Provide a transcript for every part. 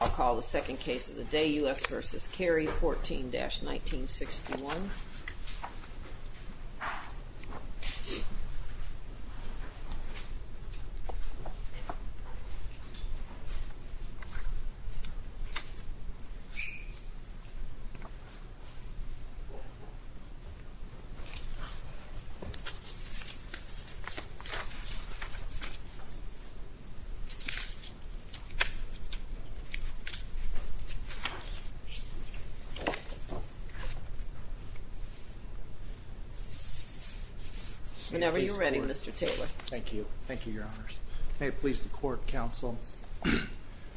I'll call the second case of the day, U.S. v. Cary, 14-1961. Whenever you're ready, Mr. Taylor. Thank you. Thank you, Your Honors. May it please the Court, Counsel?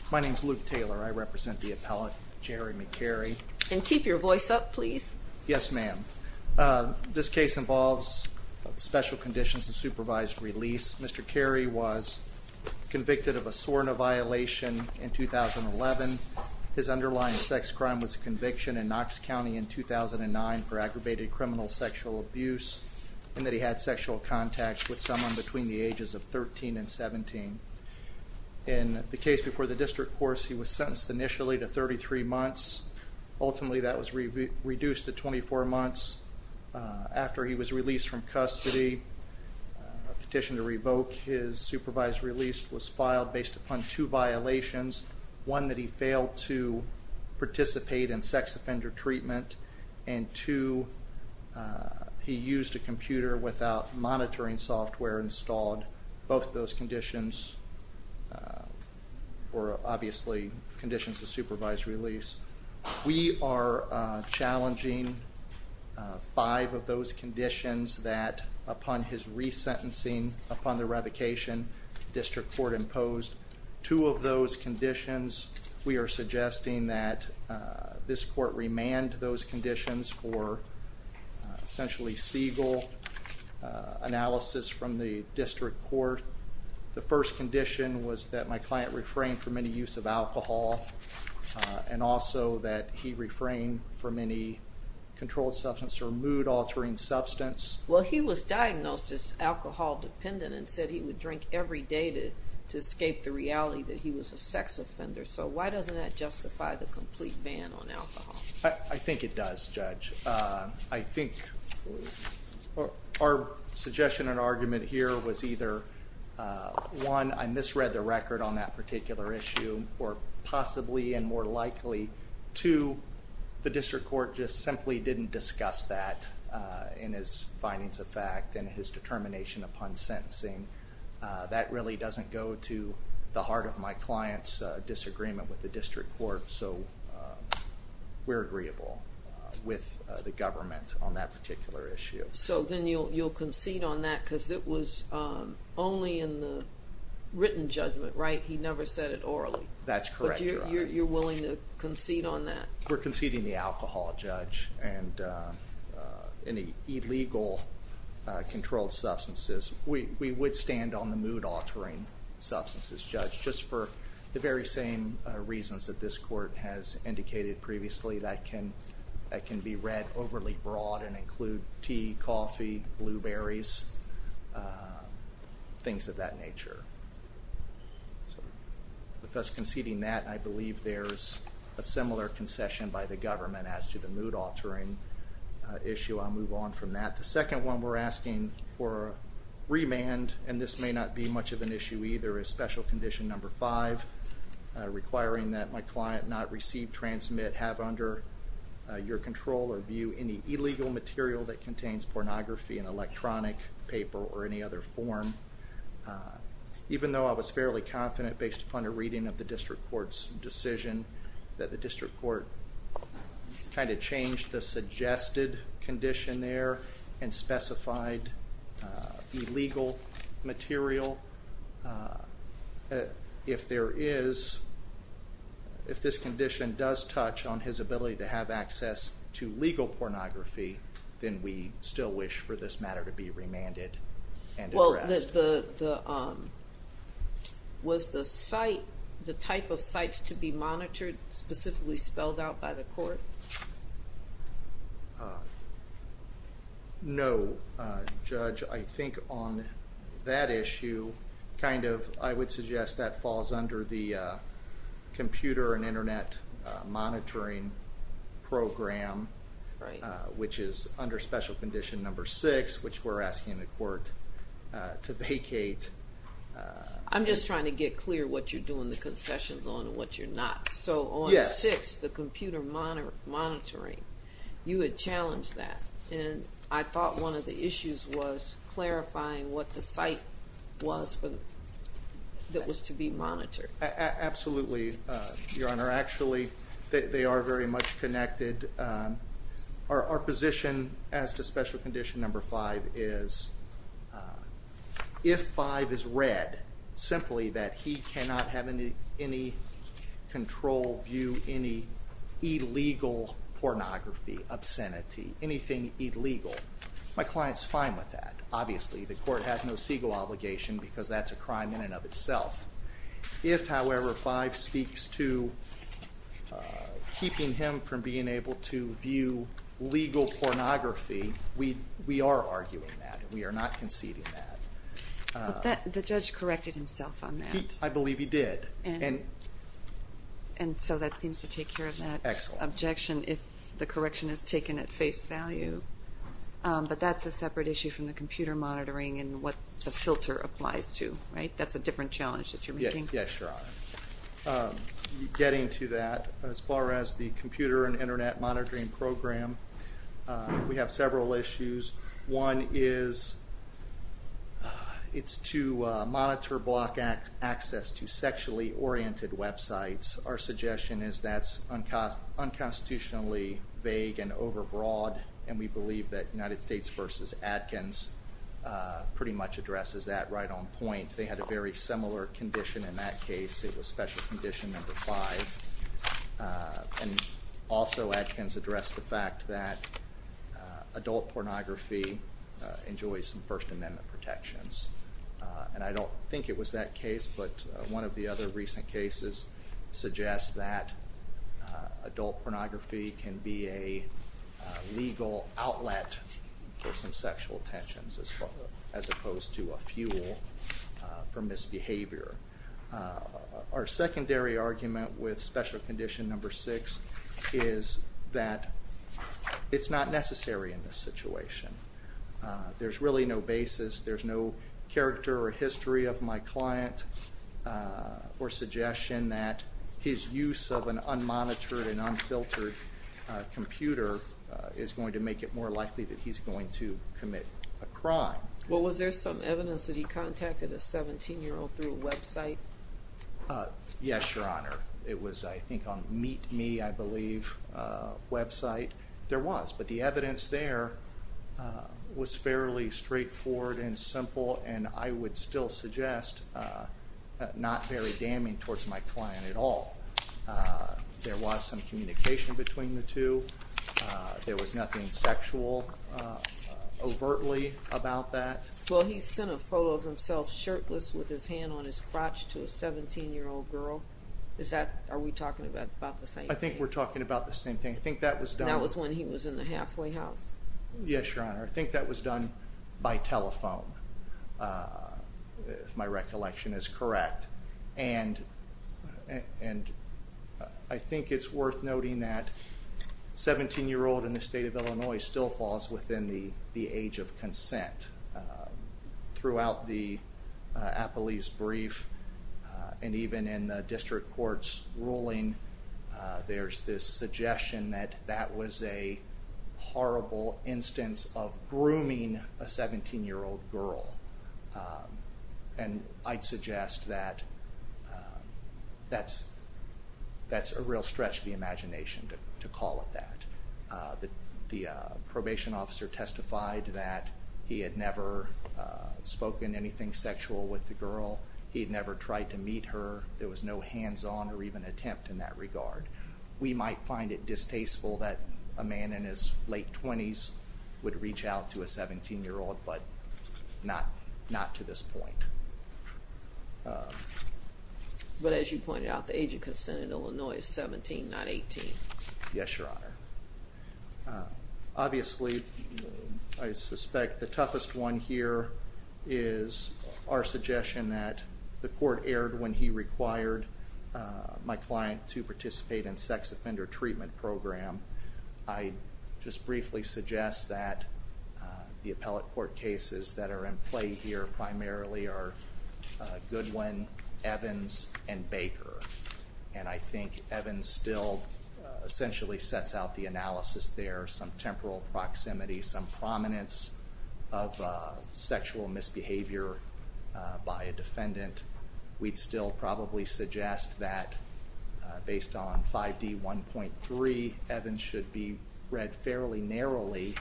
My name is Luke Taylor. I represent the appellate, Jeremy Cary. And keep your voice up, please. Yes, ma'am. This case involves special conditions and supervised release. Mr. Cary was convicted of a SORNA violation in 2011. His underlying sex crime was a conviction in Knox County in 2009 for aggravated criminal sexual abuse, and that he had sexual contact with someone between the ages of 13 and 17. In the case before the district court, he was sentenced initially to 33 months. Ultimately, that was reduced to 24 months. After he was released from custody, a petition to revoke his supervised release was filed based upon two violations. One, that he failed to participate in sex offender treatment, and two, he used a computer without monitoring software installed. Both of those conditions were obviously conditions of supervised release. We are challenging five of those conditions that, upon his resentencing, upon the revocation, the district court imposed. Two of those conditions, we are suggesting that this court remand those conditions for essentially Siegel analysis from the district court. The first condition was that my client refrain from any use of alcohol, and also that he refrain from any controlled substance or mood-altering substance. Well, he was diagnosed as alcohol-dependent and said he would drink every day to escape the reality that he was a sex offender, so why doesn't that justify the complete ban on alcohol? I think it does, Judge. I think our suggestion and argument here was either, one, I misread the record on that particular issue, or possibly and more likely, two, the district court just simply didn't discuss that in his findings of fact and his determination upon sentencing. That really doesn't go to the heart of my client's disagreement with the district court, so we're agreeable with the government on that particular issue. So then you'll concede on that because it was only in the written judgment, right? He never said it orally. That's correct, Your Honor. But you're willing to concede on that? We're conceding the alcohol, Judge, and any illegal controlled substances. We would stand on the mood-altering substances, Judge, just for the very same reasons that this court has indicated previously, that can be read overly broad and include tea, coffee, blueberries, things of that nature. With us conceding that, I believe there's a similar concession by the government as to the mood-altering issue. I'll move on from that. The second one we're asking for remand, and this may not be much of an issue either, is special condition number five, requiring that my client not receive, transmit, have under your control or view any illegal material that contains pornography in electronic paper or any other form. Even though I was fairly confident, based upon a reading of the district court's decision, that the district court kind of changed the suggested condition there and specified illegal material. If there is, if this condition does touch on his ability to have access to legal pornography, then we still wish for this matter to be remanded and addressed. Was the site, the type of sites to be monitored specifically spelled out by the court? No, Judge. I think on that issue, kind of, I would suggest that falls under the computer and Internet monitoring program, which is under special condition number six, which we're asking the court to vacate. I'm just trying to get clear what you're doing the concessions on and what you're not. So on six, the computer monitoring, you had challenged that, and I thought one of the issues was clarifying what the site was that was to be monitored. Absolutely, Your Honor. Actually, they are very much connected. Our position as to special condition number five is if five is read simply that he cannot have any control, view any illegal pornography, obscenity, anything illegal, my client's fine with that. Obviously, the court has no legal obligation because that's a crime in and of itself. If, however, five speaks to keeping him from being able to view legal pornography, we are arguing that and we are not conceding that. But the judge corrected himself on that. I believe he did. And so that seems to take care of that objection if the correction is taken at face value. But that's a separate issue from the computer monitoring and what the filter applies to, right? That's a different challenge that you're making. Yes, Your Honor. Getting to that, as far as the computer and Internet monitoring program, we have several issues. One is it's to monitor block access to sexually oriented websites. Our suggestion is that's unconstitutionally vague and overbroad, and we believe that United States v. Atkins pretty much addresses that right on point. They had a very similar condition in that case. It was special condition number five. And also Atkins addressed the fact that adult pornography enjoys First Amendment protections. And I don't think it was that case, but one of the other recent cases suggests that adult pornography can be a legal outlet for some sexual tensions as opposed to a fuel for misbehavior. Our secondary argument with special condition number six is that it's not necessary in this situation. There's really no basis. There's no character or history of my client or suggestion that his use of an unmonitored and unfiltered computer is going to make it more likely that he's going to commit a crime. Well, was there some evidence that he contacted a 17-year-old through a website? Yes, Your Honor. It was, I think, on Meet Me, I believe, website. There was, but the evidence there was fairly straightforward and simple, and I would still suggest not very damning towards my client at all. There was some communication between the two. There was nothing sexual overtly about that. Well, he sent a photo of himself shirtless with his hand on his crotch to a 17-year-old girl. Are we talking about the same thing? I think we're talking about the same thing. I think that was done. That was when he was in the halfway house. Yes, Your Honor. I think that was done by telephone, if my recollection is correct. And I think it's worth noting that 17-year-old in the state of Illinois still falls within the age of consent. Throughout the appellee's brief and even in the district court's ruling, there's this suggestion that that was a horrible instance of grooming a 17-year-old girl. And I'd suggest that that's a real stretch of the imagination to call it that. The probation officer testified that he had never spoken anything sexual with the girl. He had never tried to meet her. There was no hands-on or even attempt in that regard. We might find it distasteful that a man in his late 20s would reach out to a 17-year-old, but not to this point. But as you pointed out, the age of consent in Illinois is 17, not 18. Yes, Your Honor. Obviously, I suspect the toughest one here is our suggestion that the court erred when he required my client to participate in sex offender treatment program. I'd just briefly suggest that the appellate court cases that are in play here primarily are Goodwin, Evans, and Baker. And I think Evans still essentially sets out the analysis there, some temporal proximity, some prominence of sexual misbehavior by a defendant. We'd still probably suggest that based on 5D1.3, Evans should be read fairly narrowly,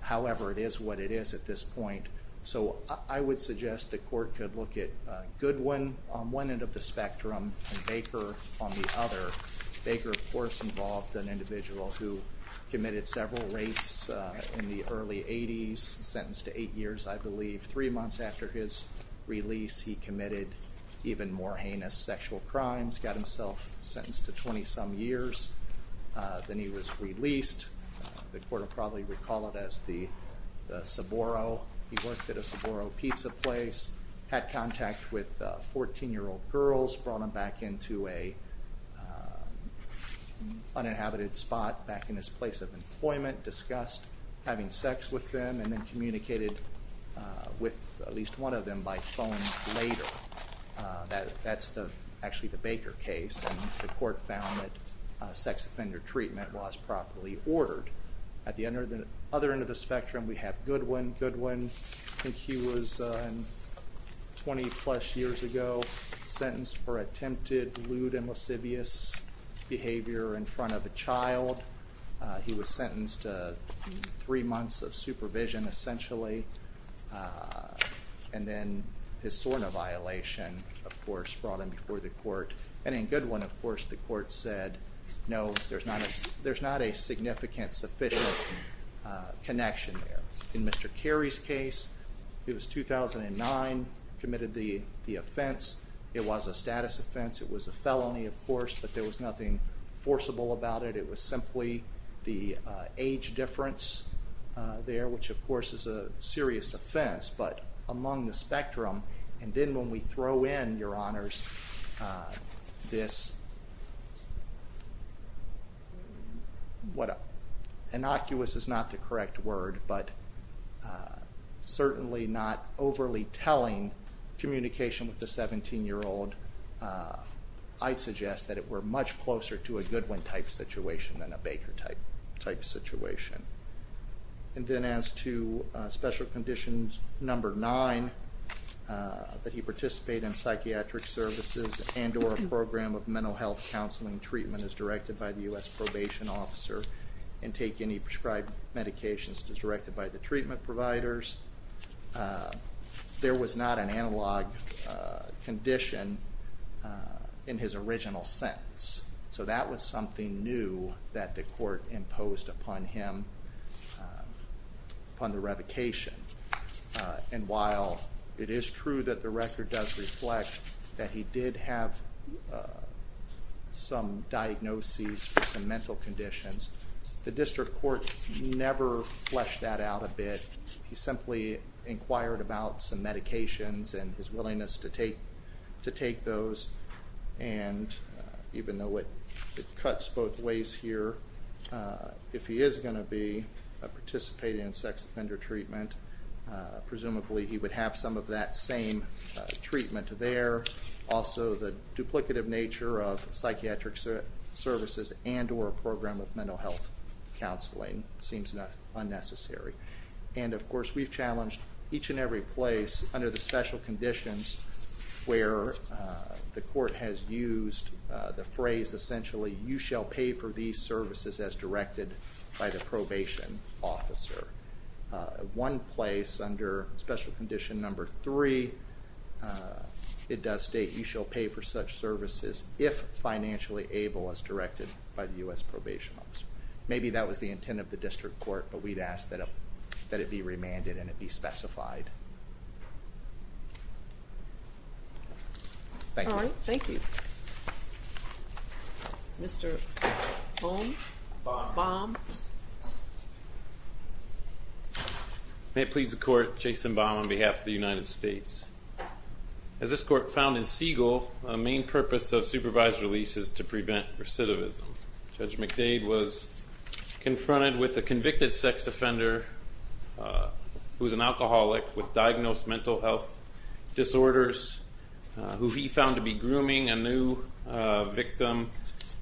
however it is what it is at this point. So I would suggest the court could look at Goodwin on one end of the spectrum and Baker on the other. Baker, of course, involved an individual who committed several rapes in the early 80s, sentenced to eight years, I believe. Three months after his release, he committed even more heinous sexual crimes, got himself sentenced to 20-some years. Then he was released. The court will probably recall it as the Sborro. He worked at a Sborro pizza place, had contact with 14-year-old girls, brought them back into an uninhabited spot back in his place of employment, discussed having sex with them, and then communicated with at least one of them by phone later. That's actually the Baker case, and the court found that sex offender treatment was properly ordered. At the other end of the spectrum, we have Goodwin. Goodwin, I think he was 20-plus years ago sentenced for attempted lewd and lascivious behavior in front of a child. He was sentenced to three months of supervision, essentially, and then his SORNA violation, of course, brought him before the court. And in Goodwin, of course, the court said, no, there's not a significant, sufficient connection there. In Mr. Carey's case, it was 2009, committed the offense. It was a status offense. It was a felony, of course, but there was nothing forcible about it. It was simply the age difference there, which, of course, is a serious offense, but among the spectrum. And then when we throw in, Your Honors, this, what innocuous is not the correct word, but certainly not overly telling communication with a 17-year-old, I'd suggest that it were much closer to a Goodwin-type situation than a Baker-type situation. And then as to special conditions number nine, that he participate in psychiatric services and or a program of mental health counseling treatment as directed by the U.S. probation officer and take any prescribed medications as directed by the treatment providers, there was not an analog condition in his original sentence. So that was something new that the court imposed upon him upon the revocation. And while it is true that the record does reflect that he did have some diagnoses for some mental conditions, the district court never fleshed that out a bit. He simply inquired about some medications and his willingness to take those. And even though it cuts both ways here, if he is going to be participating in sex offender treatment, presumably he would have some of that same treatment there. Also, the duplicative nature of psychiatric services and or a program of mental health counseling seems unnecessary. And, of course, we've challenged each and every place under the special conditions where the court has used the phrase, essentially, you shall pay for these services as directed by the probation officer. One place under special condition number three, it does state you shall pay for such services if financially able as directed by the U.S. probation officer. Maybe that was the intent of the district court, but we'd ask that it be remanded and it be specified. Thank you. All right, thank you. Mr. Baum? Baum. May it please the court, Jason Baum on behalf of the United States. As this court found in Siegel, a main purpose of supervised release is to prevent recidivism. Judge McDade was confronted with a convicted sex offender who was an alcoholic with diagnosed mental health disorders, who he found to be grooming a new victim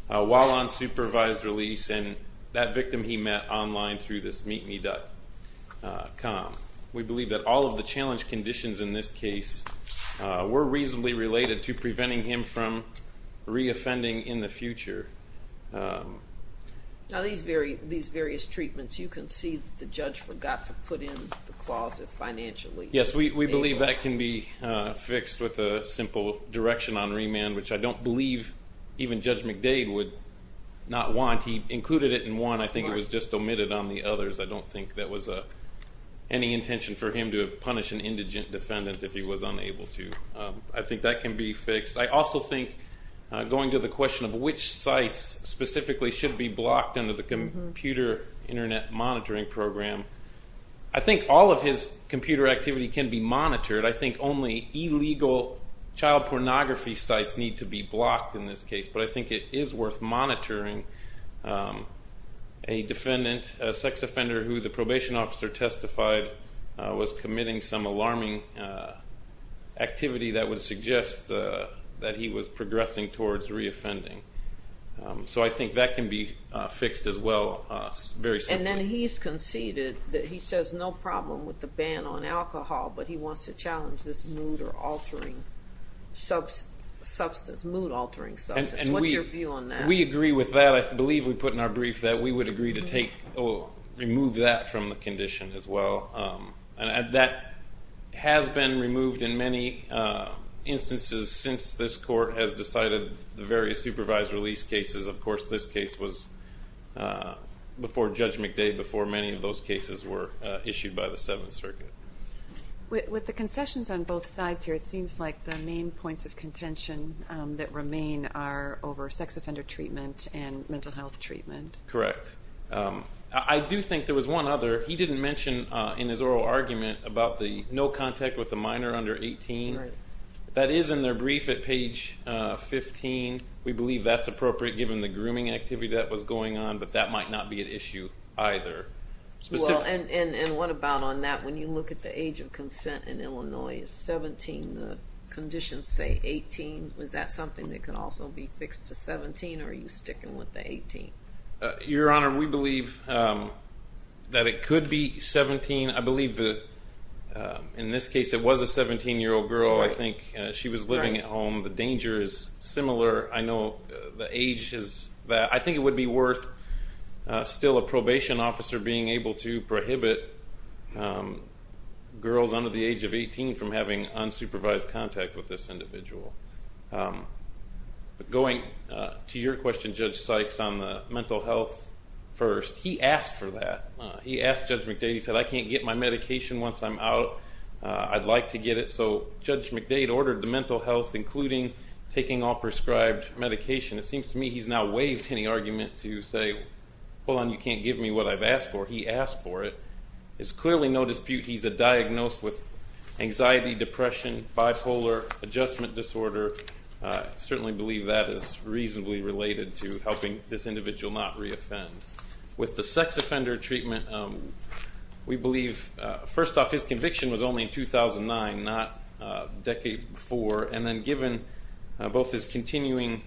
while on supervised release, and that victim he met online through this meetme.com. We believe that all of the challenge conditions in this case were reasonably related to preventing him from reoffending in the future. Now these various treatments, you concede that the judge forgot to put in the clause of financially able. Yes, we believe that can be fixed with a simple direction on remand, which I don't believe even Judge McDade would not want. He included it in one. I think it was just omitted on the others. I don't think that was any intention for him to punish an indigent defendant if he was unable to. I think that can be fixed. I also think, going to the question of which sites specifically should be blocked under the Computer Internet Monitoring Program, I think all of his computer activity can be monitored. I think only illegal child pornography sites need to be blocked in this case, but I think it is worth monitoring a defendant, a sex offender, who the probation officer testified was committing some alarming activity that would suggest that he was progressing towards reoffending. So I think that can be fixed as well, very simply. And then he's conceded that he says no problem with the ban on alcohol, but he wants to challenge this mood-altering substance. What's your view on that? We agree with that. I believe we put in our brief that we would agree to remove that from the condition as well. That has been removed in many instances since this court has decided the various supervised release cases. Of course, this case was before Judge McDade, before many of those cases were issued by the Seventh Circuit. With the concessions on both sides here, it seems like the main points of contention that remain are over sex offender treatment and mental health treatment. Correct. I do think there was one other. He didn't mention in his oral argument about the no contact with a minor under 18. That is in their brief at page 15. We believe that's appropriate given the grooming activity that was going on, but that might not be an issue either. What about on that? When you look at the age of consent in Illinois, 17, the conditions say 18. Is that something that could also be fixed to 17, or are you sticking with the 18? Your Honor, we believe that it could be 17. I believe in this case it was a 17-year-old girl. I think she was living at home. The danger is similar. I know the age is that. I think it would be worth still a probation officer being able to prohibit girls under the age of 18 from having unsupervised contact with this individual. Going to your question, Judge Sykes, on the mental health first, he asked for that. He asked Judge McDade. He said, I can't get my medication once I'm out. I'd like to get it. So Judge McDade ordered the mental health, including taking all prescribed medication. It seems to me he's now waived any argument to say, hold on, you can't give me what I've asked for. He asked for it. There's clearly no dispute he's diagnosed with anxiety, depression, bipolar, adjustment disorder. I certainly believe that is reasonably related to helping this individual not reoffend. With the sex offender treatment, we believe, first off, his conviction was only in 2009, not decades before. And then given both his continuing,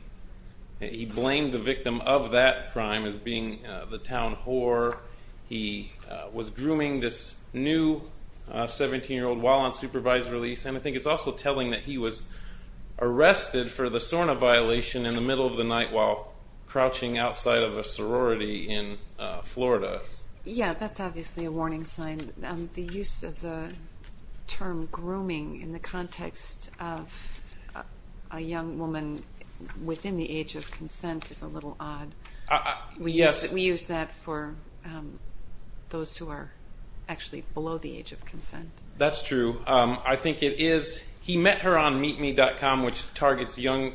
he blamed the victim of that crime as being the town whore. He was grooming this new 17-year-old while on supervised release. And I think it's also telling that he was arrested for the SORNA violation in the middle of the night while crouching outside of a sorority in Florida. Yeah, that's obviously a warning sign. The use of the term grooming in the context of a young woman within the age of consent is a little odd. We use that for those who are actually below the age of consent. That's true. I think it is. He met her on meetme.com, which targets young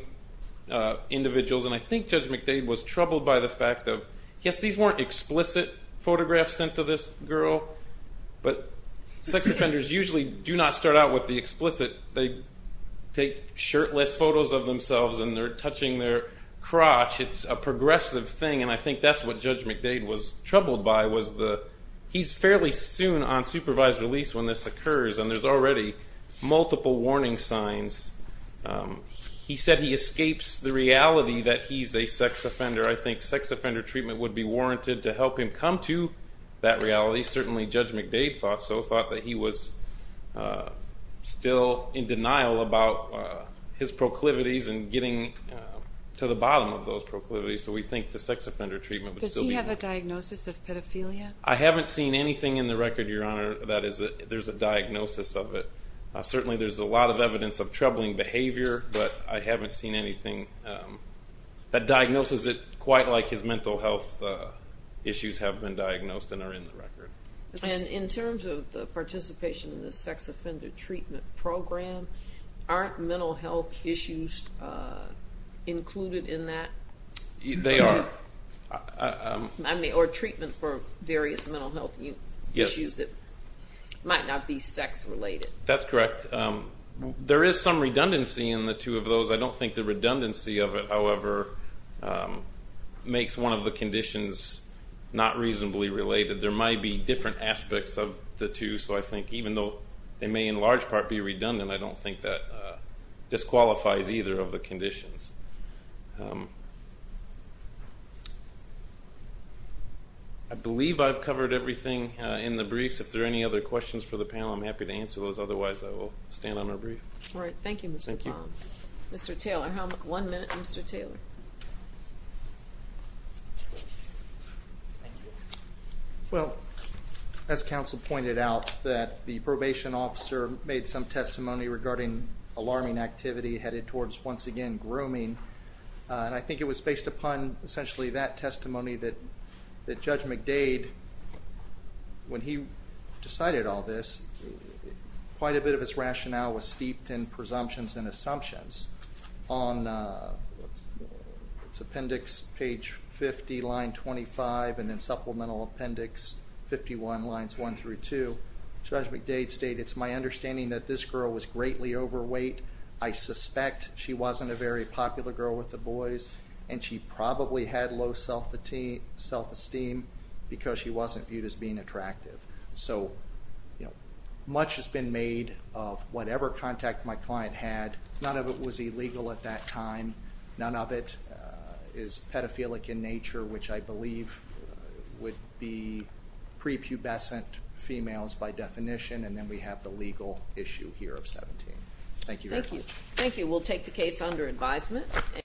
individuals, and I think Judge McDade was troubled by the fact of, yes, these weren't explicit photographs sent to this girl, but sex offenders usually do not start out with the explicit. They take shirtless photos of themselves, and they're touching their crotch. It's a progressive thing, and I think that's what Judge McDade was troubled by. He's fairly soon on supervised release when this occurs, and there's already multiple warning signs. He said he escapes the reality that he's a sex offender. I think sex offender treatment would be warranted to help him come to that reality. Certainly Judge McDade thought so, thought that he was still in denial about his proclivities and getting to the bottom of those proclivities, so we think the sex offender treatment would still be good. Does he have a diagnosis of pedophilia? I haven't seen anything in the record, Your Honor, that there's a diagnosis of it. Certainly there's a lot of evidence of troubling behavior, but I haven't seen anything that diagnoses it quite like his mental health issues have been diagnosed and are in the record. And in terms of the participation in the sex offender treatment program, aren't mental health issues included in that? They are. Or treatment for various mental health issues that might not be sex related. That's correct. There is some redundancy in the two of those. I don't think the redundancy of it, however, makes one of the conditions not reasonably related. There might be different aspects of the two, so I think even though they may in large part be redundant, I don't think that disqualifies either of the conditions. I believe I've covered everything in the briefs. If there are any other questions for the panel, I'm happy to answer those. Otherwise, I will stand on our brief. All right. Thank you, Mr. Baum. Thank you. Mr. Taylor. One minute, Mr. Taylor. Well, as counsel pointed out, that the probation officer made some testimony regarding alarming activity headed towards, once again, grooming. And I think it was based upon essentially that testimony that Judge McDade, when he decided all this, quite a bit of his rationale was steeped in presumptions and assumptions. On appendix page 50, line 25, and then supplemental appendix 51, lines 1 through 2, Judge McDade stated, it's my understanding that this girl was greatly overweight. I suspect she wasn't a very popular girl with the boys, and she probably had low self-esteem because she wasn't viewed as being attractive. So much has been made of whatever contact my client had. None of it was illegal at that time. None of it is pedophilic in nature, which I believe would be prepubescent females by definition, and then we have the legal issue here of 17. Thank you very much. Thank you. We'll take the case under advisement.